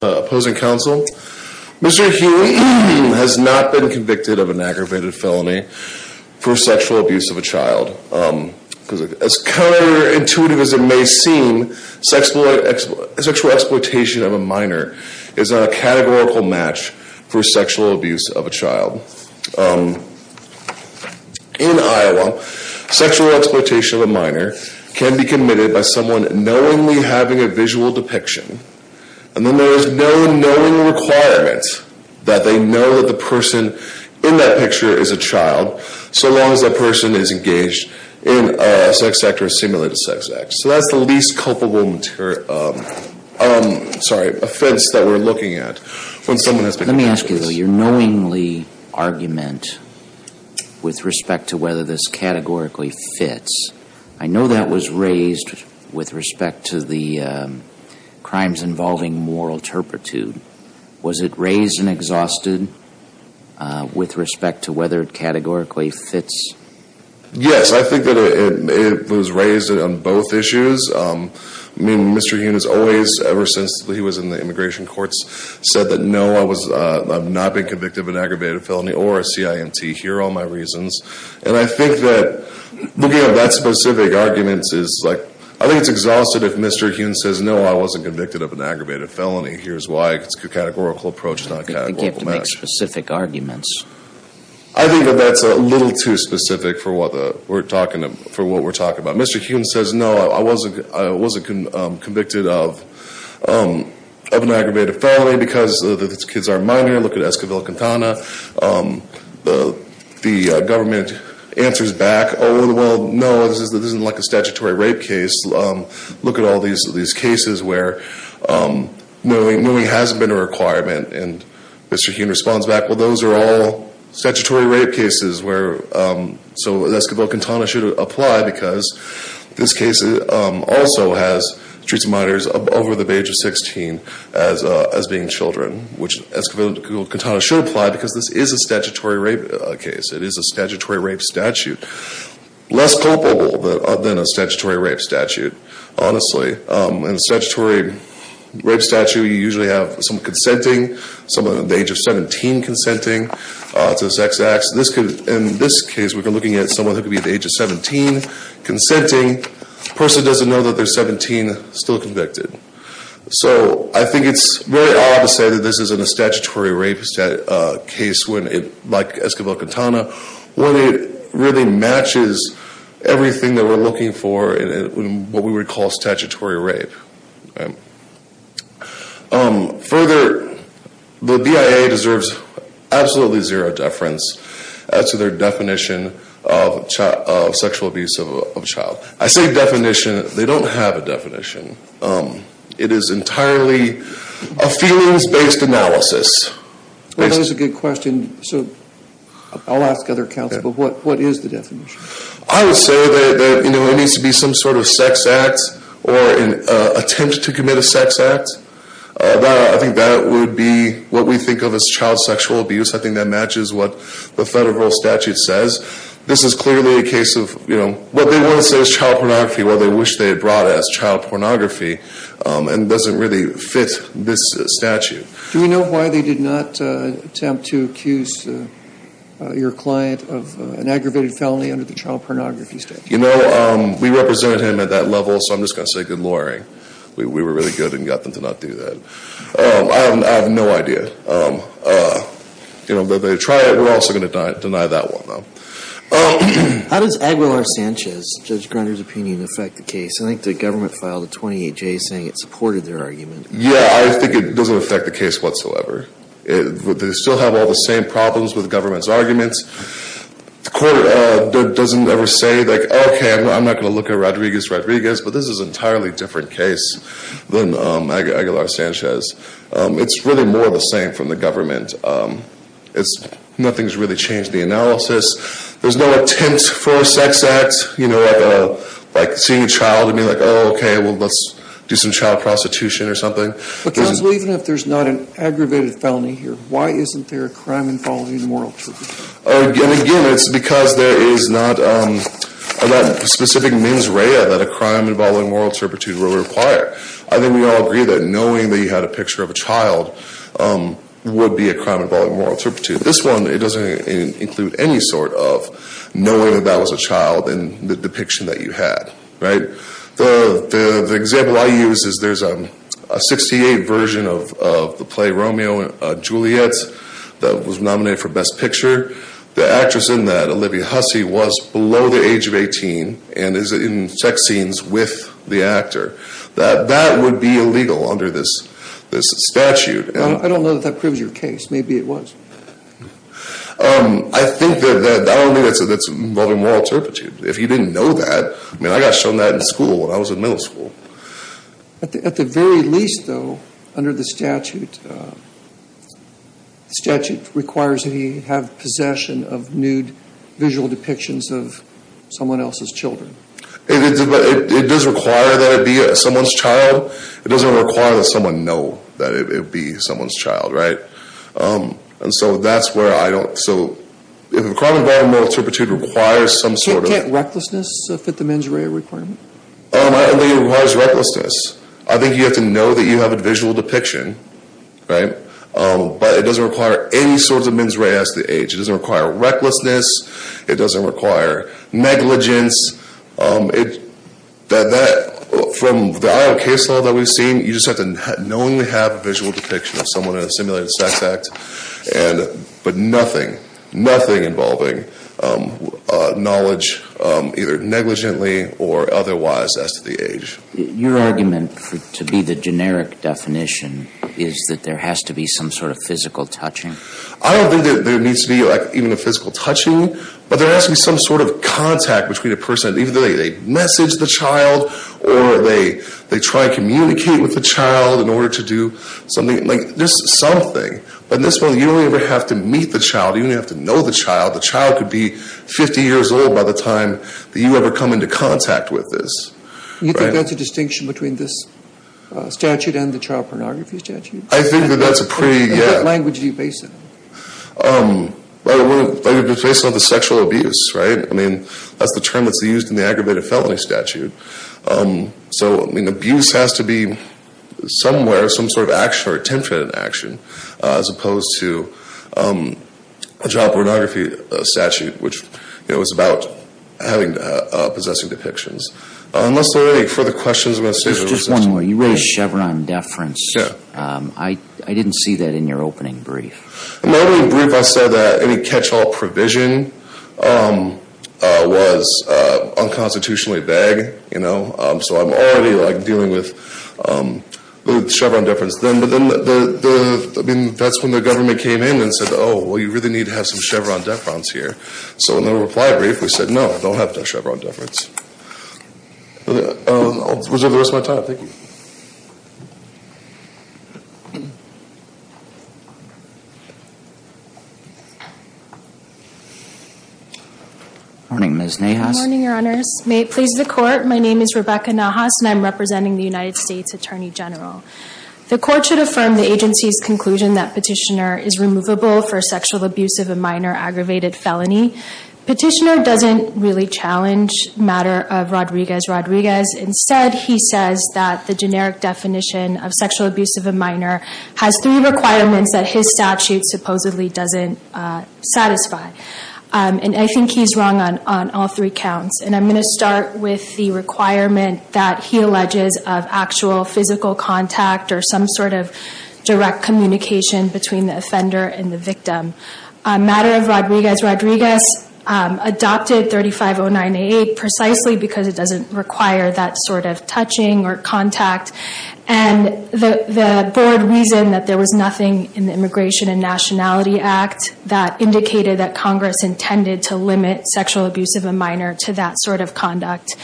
Mr. Huynh has not been convicted of an aggravated felony for sexual abuse of a child. As counterintuitive as it may seem, sexual exploitation of a minor is a categorical match for sexual abuse of a child. In Iowa, sexual exploitation of a minor can be committed by someone knowingly having a visual depiction and then there is no knowing requirement that they know that the person in that picture is a child so long as that person is engaged in a sex act or a simulated sex act. So that's the least culpable offense that we're looking at when someone has been convicted of this. Let me ask you, though. Your knowingly argument with respect to whether this categorically fits, I know that was raised with respect to the crimes involving moral turpitude. Was it raised and exhausted with respect to whether it categorically fits? Yes, I think that it was raised on both issues. I mean, Mr. Huynh has always, ever since he was in the immigration courts, said that, no, I've not been convicted of an aggravated felony or a CINT. Here are all my reasons. And I think that looking at that specific argument is like, I think it's exhausted if Mr. Huynh says, no, I wasn't convicted of an aggravated felony. Here's why. It's a categorical approach, not a categorical match. You have to make specific arguments. I think that that's a little too specific for what we're talking about. Mr. Huynh says, no, I wasn't convicted of an aggravated felony because the kids are minor. Look at Escobilla-Quintana. The government answers back, oh, well, no, this isn't like a statutory rape case. Look at all these cases where moving hasn't been a requirement. And Mr. Huynh responds back, well, those are all statutory rape cases. So Escobilla-Quintana should apply because this case also has streets of minors over the age of 16 as being children, which Escobilla-Quintana should apply because this is a statutory rape case. It is a statutory rape statute. Less culpable than a statutory rape statute, honestly. In a statutory rape statute, you usually have someone consenting, someone at the age of 17 consenting to sex acts. In this case, we're looking at someone who could be at the age of 17 consenting. The person doesn't know that they're 17, still convicted. So I think it's very odd to say that this isn't a statutory rape case like Escobilla-Quintana, when it really matches everything that we're looking for in what we would call statutory rape. Further, the BIA deserves absolutely zero deference to their definition of sexual abuse of a child. I say definition. They don't have a definition. It is entirely a feelings-based analysis. Well, that is a good question. So I'll ask other counsel, but what is the definition? I would say that it needs to be some sort of sex act or an attempt to commit a sex act. I think that would be what we think of as child sexual abuse. I think that matches what the federal statute says. This is clearly a case of what they want to say is child pornography, what they wish they had brought as child pornography, and it doesn't really fit this statute. Do we know why they did not attempt to accuse your client of an aggravated felony under the child pornography statute? You know, we represented him at that level, so I'm just going to say good lawyering. We were really good and got them to not do that. I have no idea. You know, they try it. We're also going to deny that one, though. How does Aguilar-Sanchez, Judge Grunder's opinion, affect the case? I think the government filed a 28-J saying it supported their argument. Yeah, I think it doesn't affect the case whatsoever. They still have all the same problems with government's arguments. The court doesn't ever say, like, okay, I'm not going to look at Rodriguez-Rodriguez, but this is an entirely different case than Aguilar-Sanchez. It's really more the same from the government. Nothing's really changed in the analysis. There's no attempt for a sex act, you know, like seeing a child and being like, oh, okay, well, let's do some child prostitution or something. But, counsel, even if there's not an aggravated felony here, why isn't there a crime involving moral turpitude? Again, it's because there is not a specific mens rea that a crime involving moral turpitude will require. I think we all agree that knowing that you had a picture of a child would be a crime involving moral turpitude. This one, it doesn't include any sort of knowing that that was a child in the depiction that you had, right? The example I use is there's a 68 version of the play Romeo and Juliet that was nominated for Best Picture. The actress in that, Olivia Hussey, was below the age of 18 and is in sex scenes with the actor. That would be illegal under this statute. Well, I don't know that that proves your case. Maybe it was. I think that only that's involving moral turpitude. If you didn't know that, I mean, I got shown that in school when I was in middle school. At the very least, though, under the statute, the statute requires that he have possession of nude visual depictions of someone else's children. It does require that it be someone's child. It doesn't require that someone know that it would be someone's child, right? And so that's where I don't, so if a crime involving moral turpitude requires some sort of- Can't can't recklessness fit the mens rea requirement? I don't think it requires recklessness. I think you have to know that you have a visual depiction, right? But it doesn't require any sort of mens rea as to age. It doesn't require recklessness. It doesn't require negligence. From the Iowa case law that we've seen, you just have to knowingly have a visual depiction of someone in a simulated sex act. But nothing, nothing involving knowledge either negligently or otherwise as to the age. Your argument to be the generic definition is that there has to be some sort of physical touching. I don't think that there needs to be like even a physical touching, but they're asking some sort of contact between a person, even though they message the child or they try and communicate with the child in order to do something, like just something. But in this one, you don't even have to meet the child. You don't even have to know the child. The child could be 50 years old by the time that you ever come into contact with this. You think that's a distinction between this statute and the child pornography statute? I think that that's a pretty, yeah. Well, we're facing the sexual abuse, right? I mean, that's the term that's used in the aggravated felony statute. So, I mean, abuse has to be somewhere, some sort of action or attempted action, as opposed to a child pornography statute, which, you know, is about having, possessing depictions. Unless there are any further questions. Just one more. You raised Chevron deference. Yeah. I didn't see that in your opening brief. In my opening brief, I said that any catch-all provision was unconstitutionally vague, you know. So I'm already, like, dealing with Chevron deference. But then, I mean, that's when the government came in and said, oh, well, you really need to have some Chevron deference here. So in the reply brief, we said, no, don't have the Chevron deference. I'll reserve the rest of my time. Thank you. Good morning, Ms. Nahas. Good morning, Your Honors. May it please the Court, my name is Rebecca Nahas, and I'm representing the United States Attorney General. The Court should affirm the agency's conclusion that petitioner is removable for sexual abuse of a minor aggravated felony. Petitioner doesn't really challenge matter of Rodriguez-Rodriguez. Instead, he says that the generic definition of sexual abuse of a minor has three requirements that his statute supposedly doesn't satisfy. And I think he's wrong on all three counts. And I'm going to start with the requirement that he alleges of actual physical contact or some sort of direct communication between the offender and the victim. Matter of Rodriguez-Rodriguez adopted 3509A precisely because it doesn't require that sort of touching or contact. And the board reasoned that there was nothing in the Immigration and Nationality Act that indicated that Congress intended to limit sexual abuse of a minor to that sort of conduct.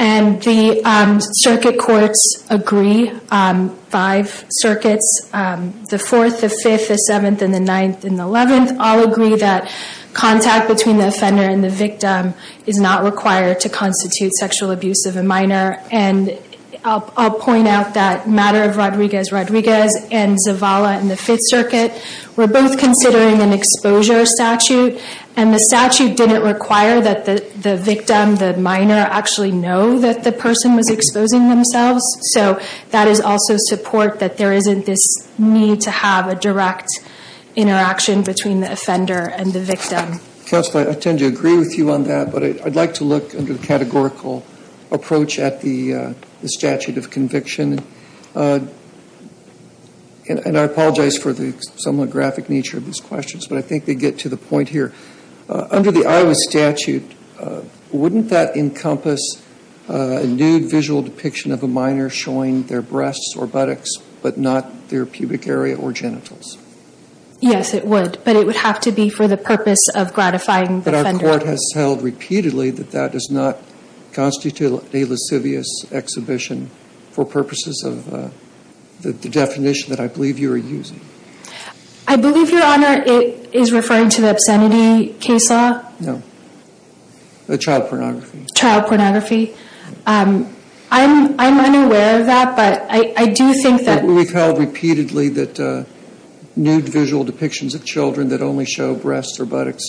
And the circuit courts agree, five circuits, the 4th, the 5th, the 7th, and the 9th, and the 11th, all agree that contact between the offender and the victim is not required to constitute sexual abuse of a minor. And I'll point out that Matter of Rodriguez-Rodriguez and Zavala in the 5th Circuit were both considering an exposure statute. And the statute didn't require that the victim, the minor, actually know that the person was exposing themselves. So that is also support that there isn't this need to have a direct interaction between the offender and the victim. Counsel, I tend to agree with you on that, but I'd like to look under the categorical approach at the statute of conviction. And I apologize for the somewhat graphic nature of these questions, but I think they get to the point here. Under the Iowa statute, wouldn't that encompass a nude visual depiction of a minor showing their breasts or buttocks, but not their pubic area or genitals? Yes, it would. But it would have to be for the purpose of gratifying the offender. But our court has held repeatedly that that does not constitute a lascivious exhibition for purposes of the definition that I believe you are using. I believe, Your Honor, it is referring to the obscenity case law. No, the child pornography. Child pornography. I'm unaware of that, but I do think that... We've held repeatedly that nude visual depictions of children that only show breasts or buttocks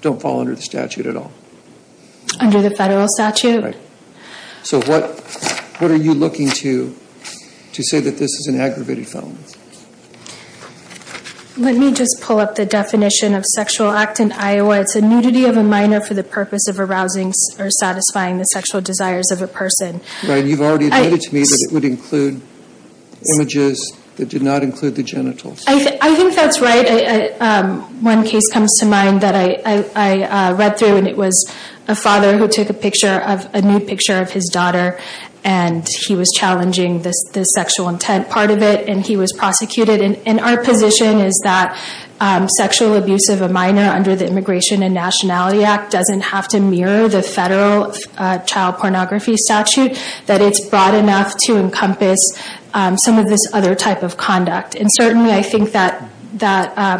don't fall under the statute at all. Under the federal statute. So what are you looking to say that this is an aggravated felony? Let me just pull up the definition of sexual act in Iowa. It's a nudity of a minor for the purpose of arousing or satisfying the sexual desires of a person. Right, and you've already admitted to me that it would include images that did not include the genitals. I think that's right. One case comes to mind that I read through and it was a father who took a nude picture of his daughter and he was challenging the sexual intent part of it and he was prosecuted. And our position is that sexual abuse of a minor under the Immigration and Nationality Act doesn't have to mirror the federal child pornography statute. That it's broad enough to encompass some of this other type of conduct. And certainly I think that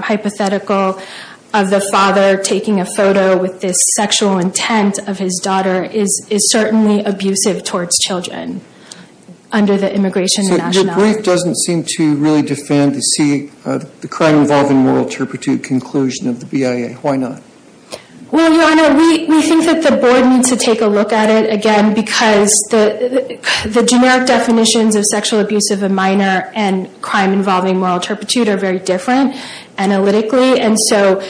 hypothetical of the father taking a photo with this sexual intent of his daughter is certainly abusive towards children under the Immigration and Nationality Act. So the brief doesn't seem to really defend the crime involving moral turpitude conclusion of the BIA. Why not? Well, Your Honor, we think that the board needs to take a look at it again because the generic definitions of sexual abuse of a minor and crime involving moral turpitude are very different analytically. And so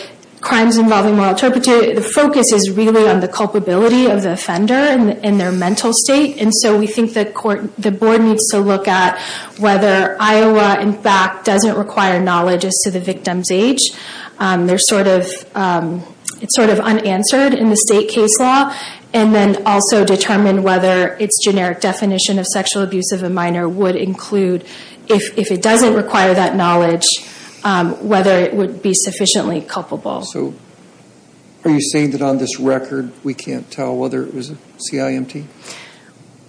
crimes involving moral turpitude, the focus is really on the culpability of the offender and their mental state. And so we think the board needs to look at whether Iowa, in fact, doesn't require knowledge as to the victim's age. It's sort of unanswered in the state case law. And then also determine whether its generic definition of sexual abuse of a minor would include, if it doesn't require that knowledge, whether it would be sufficiently culpable. So are you saying that on this record we can't tell whether it was a CIMT?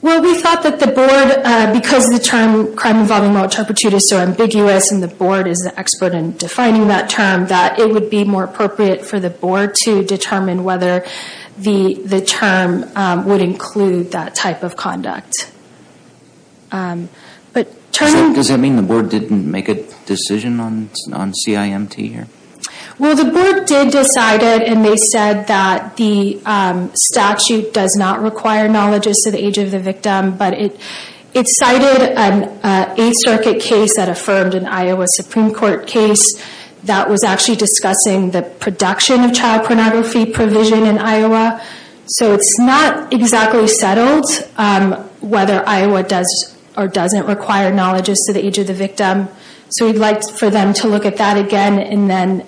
Well, we thought that the board, because the term crime involving moral turpitude is so ambiguous and the board is the expert in defining that term, that it would be more appropriate for the board to determine whether the term would include that type of conduct. Does that mean the board didn't make a decision on CIMT here? Well, the board did decide it and they said that the statute does not require knowledge as to the age of the victim. But it cited an Eighth Circuit case that affirmed an Iowa Supreme Court case that was actually discussing the production of child pornography provision in Iowa. So it's not exactly settled whether Iowa does or doesn't require knowledge as to the age of the victim. So we'd like for them to look at that again and then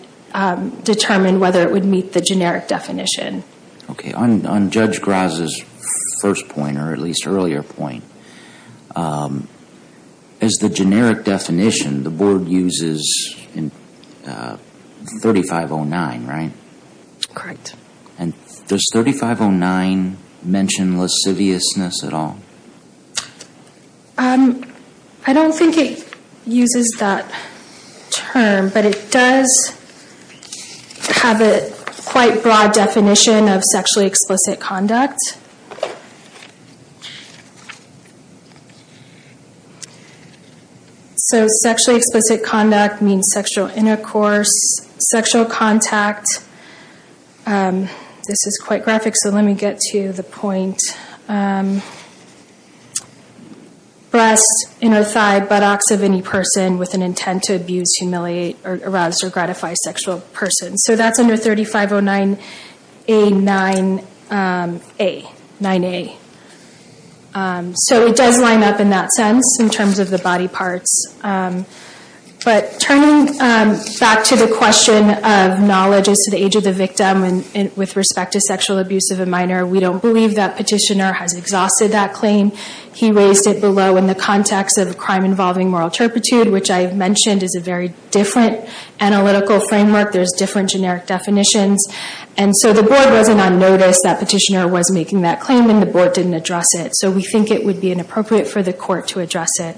determine whether it would meet the generic definition. Okay. On Judge Graza's first point, or at least earlier point, as the generic definition, the board uses 3509, right? Correct. And does 3509 mention lasciviousness at all? I don't think it uses that term, but it does have a quite broad definition of sexually explicit conduct. So sexually explicit conduct means sexual intercourse, sexual contact. This is quite graphic, so let me get to the point. Breast, inner thigh, buttocks of any person with an intent to abuse, humiliate, harass, or gratify a sexual person. So that's under 3509A-9A. So it does line up in that sense in terms of the body parts. But turning back to the question of knowledge as to the age of the victim with respect to sexual abuse of a minor, we don't believe that petitioner has exhausted that claim. He raised it below in the context of a crime involving moral turpitude, which I mentioned is a very different analytical framework. There's different generic definitions. And so the board wasn't on notice that petitioner was making that claim, and the board didn't address it. So we think it would be inappropriate for the court to address it.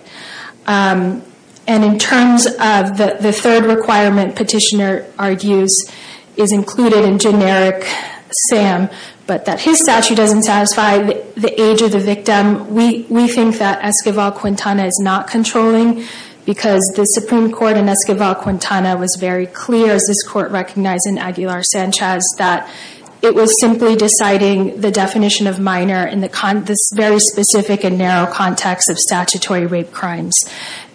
And in terms of the third requirement petitioner argues is included in generic SAM, but that his statute doesn't satisfy the age of the victim, we think that Esquivel-Quintana is not controlling because the Supreme Court in Esquivel-Quintana was very clear, as this court recognized in Aguilar-Sanchez, that it was simply deciding the definition of minor in this very specific and narrow context of statutory rape crimes.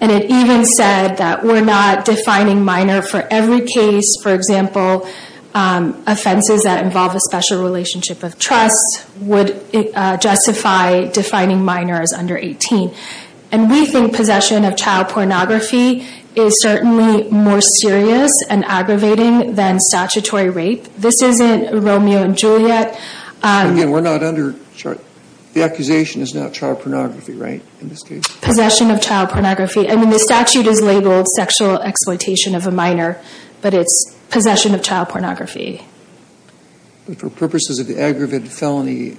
And it even said that we're not defining minor for every case. For example, offenses that involve a special relationship of trust would justify defining minor as under 18. And we think possession of child pornography is certainly more serious and aggravating than statutory rape. This isn't Romeo and Juliet. Again, we're not under – the accusation is not child pornography, right, in this case? Possession of child pornography. I mean, the statute is labeled sexual exploitation of a minor, but it's possession of child pornography. But for purposes of the aggravated felony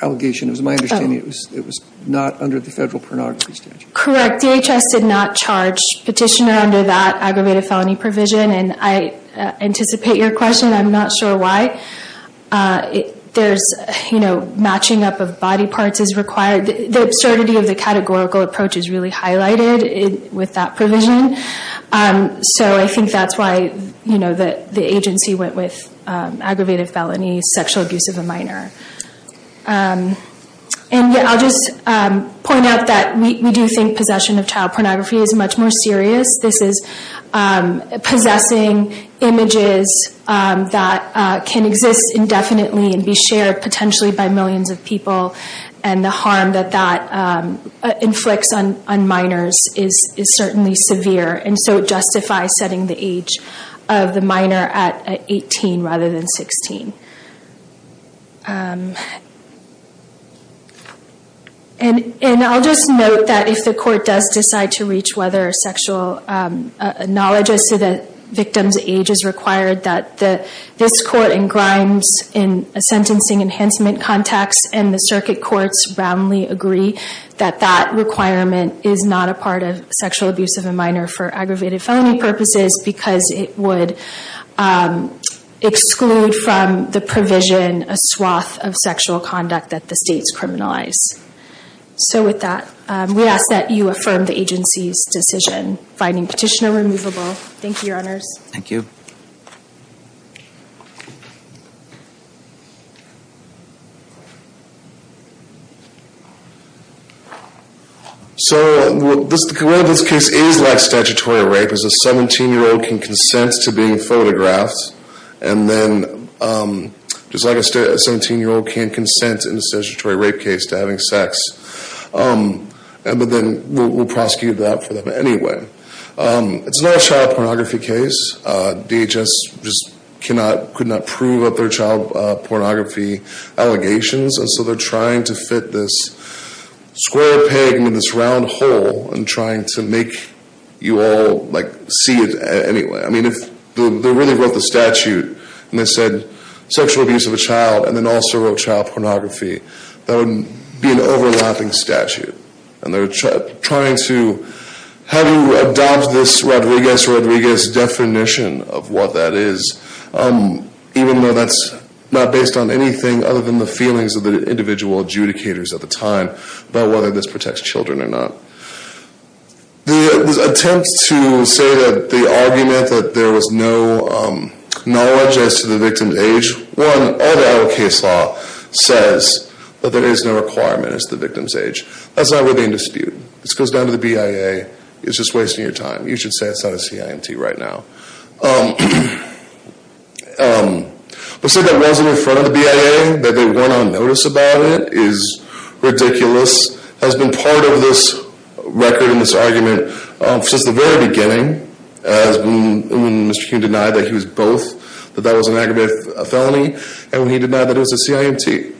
allegation, it was my understanding it was not under the federal pornography statute. Correct. DHS did not charge petitioner under that aggravated felony provision. And I anticipate your question. I'm not sure why. There's, you know, matching up of body parts is required. The absurdity of the categorical approach is really highlighted with that provision. So I think that's why, you know, the agency went with aggravated felony, sexual abuse of a minor. And I'll just point out that we do think possession of child pornography is much more serious. This is possessing images that can exist indefinitely and be shared potentially by millions of people. And the harm that that inflicts on minors is certainly severe. And so it justifies setting the age of the minor at 18 rather than 16. And I'll just note that if the court does decide to reach whether a sexual acknowledges to the victim's age is required, that this court ingrinds in a sentencing enhancement context, and the circuit courts roundly agree that that requirement is not a part of sexual abuse of a minor for aggravated felony purposes because it would exclude from the provision a swath of sexual conduct that the states criminalize. So with that, we ask that you affirm the agency's decision finding petitioner removable. Thank you, Your Honors. Thank you. Thank you. So the way this case is like statutory rape is a 17-year-old can consent to being photographed, and then just like a 17-year-old can consent in a statutory rape case to having sex. But then we'll prosecute that for them anyway. It's not a child pornography case. DHS just could not prove that they're child pornography allegations, and so they're trying to fit this square peg in this round hole and trying to make you all see it anyway. I mean, if they really wrote the statute and they said sexual abuse of a child, and then also wrote child pornography, that would be an overlapping statute. And they're trying to have you adopt this Rodriguez-Rodriguez definition of what that is, even though that's not based on anything other than the feelings of the individual adjudicators at the time about whether this protects children or not. The attempt to say that the argument that there was no knowledge as to the victim's age, one, all the adult case law says that there is no requirement as to the victim's age. That's not worthy of dispute. This goes down to the BIA. It's just wasting your time. You should say it's not a CIMT right now. To say that it wasn't in front of the BIA, that they weren't on notice about it, is ridiculous. It has been part of this record and this argument since the very beginning, as when Mr. King denied that he was both, that that was an aggravated felony, and when he denied that it was a CIMT.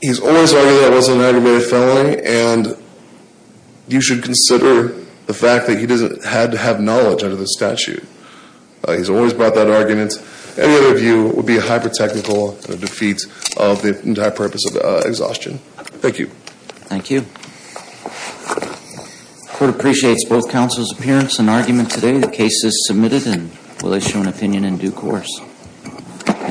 He's always arguing that it wasn't an aggravated felony, and you should consider the fact that he had to have knowledge under the statute. He's always brought that argument. Any other view would be a hyper-technical defeat of the entire purpose of exhaustion. Thank you. Thank you. The court appreciates both counsel's appearance and argument today. The case is submitted and will issue an opinion in due course.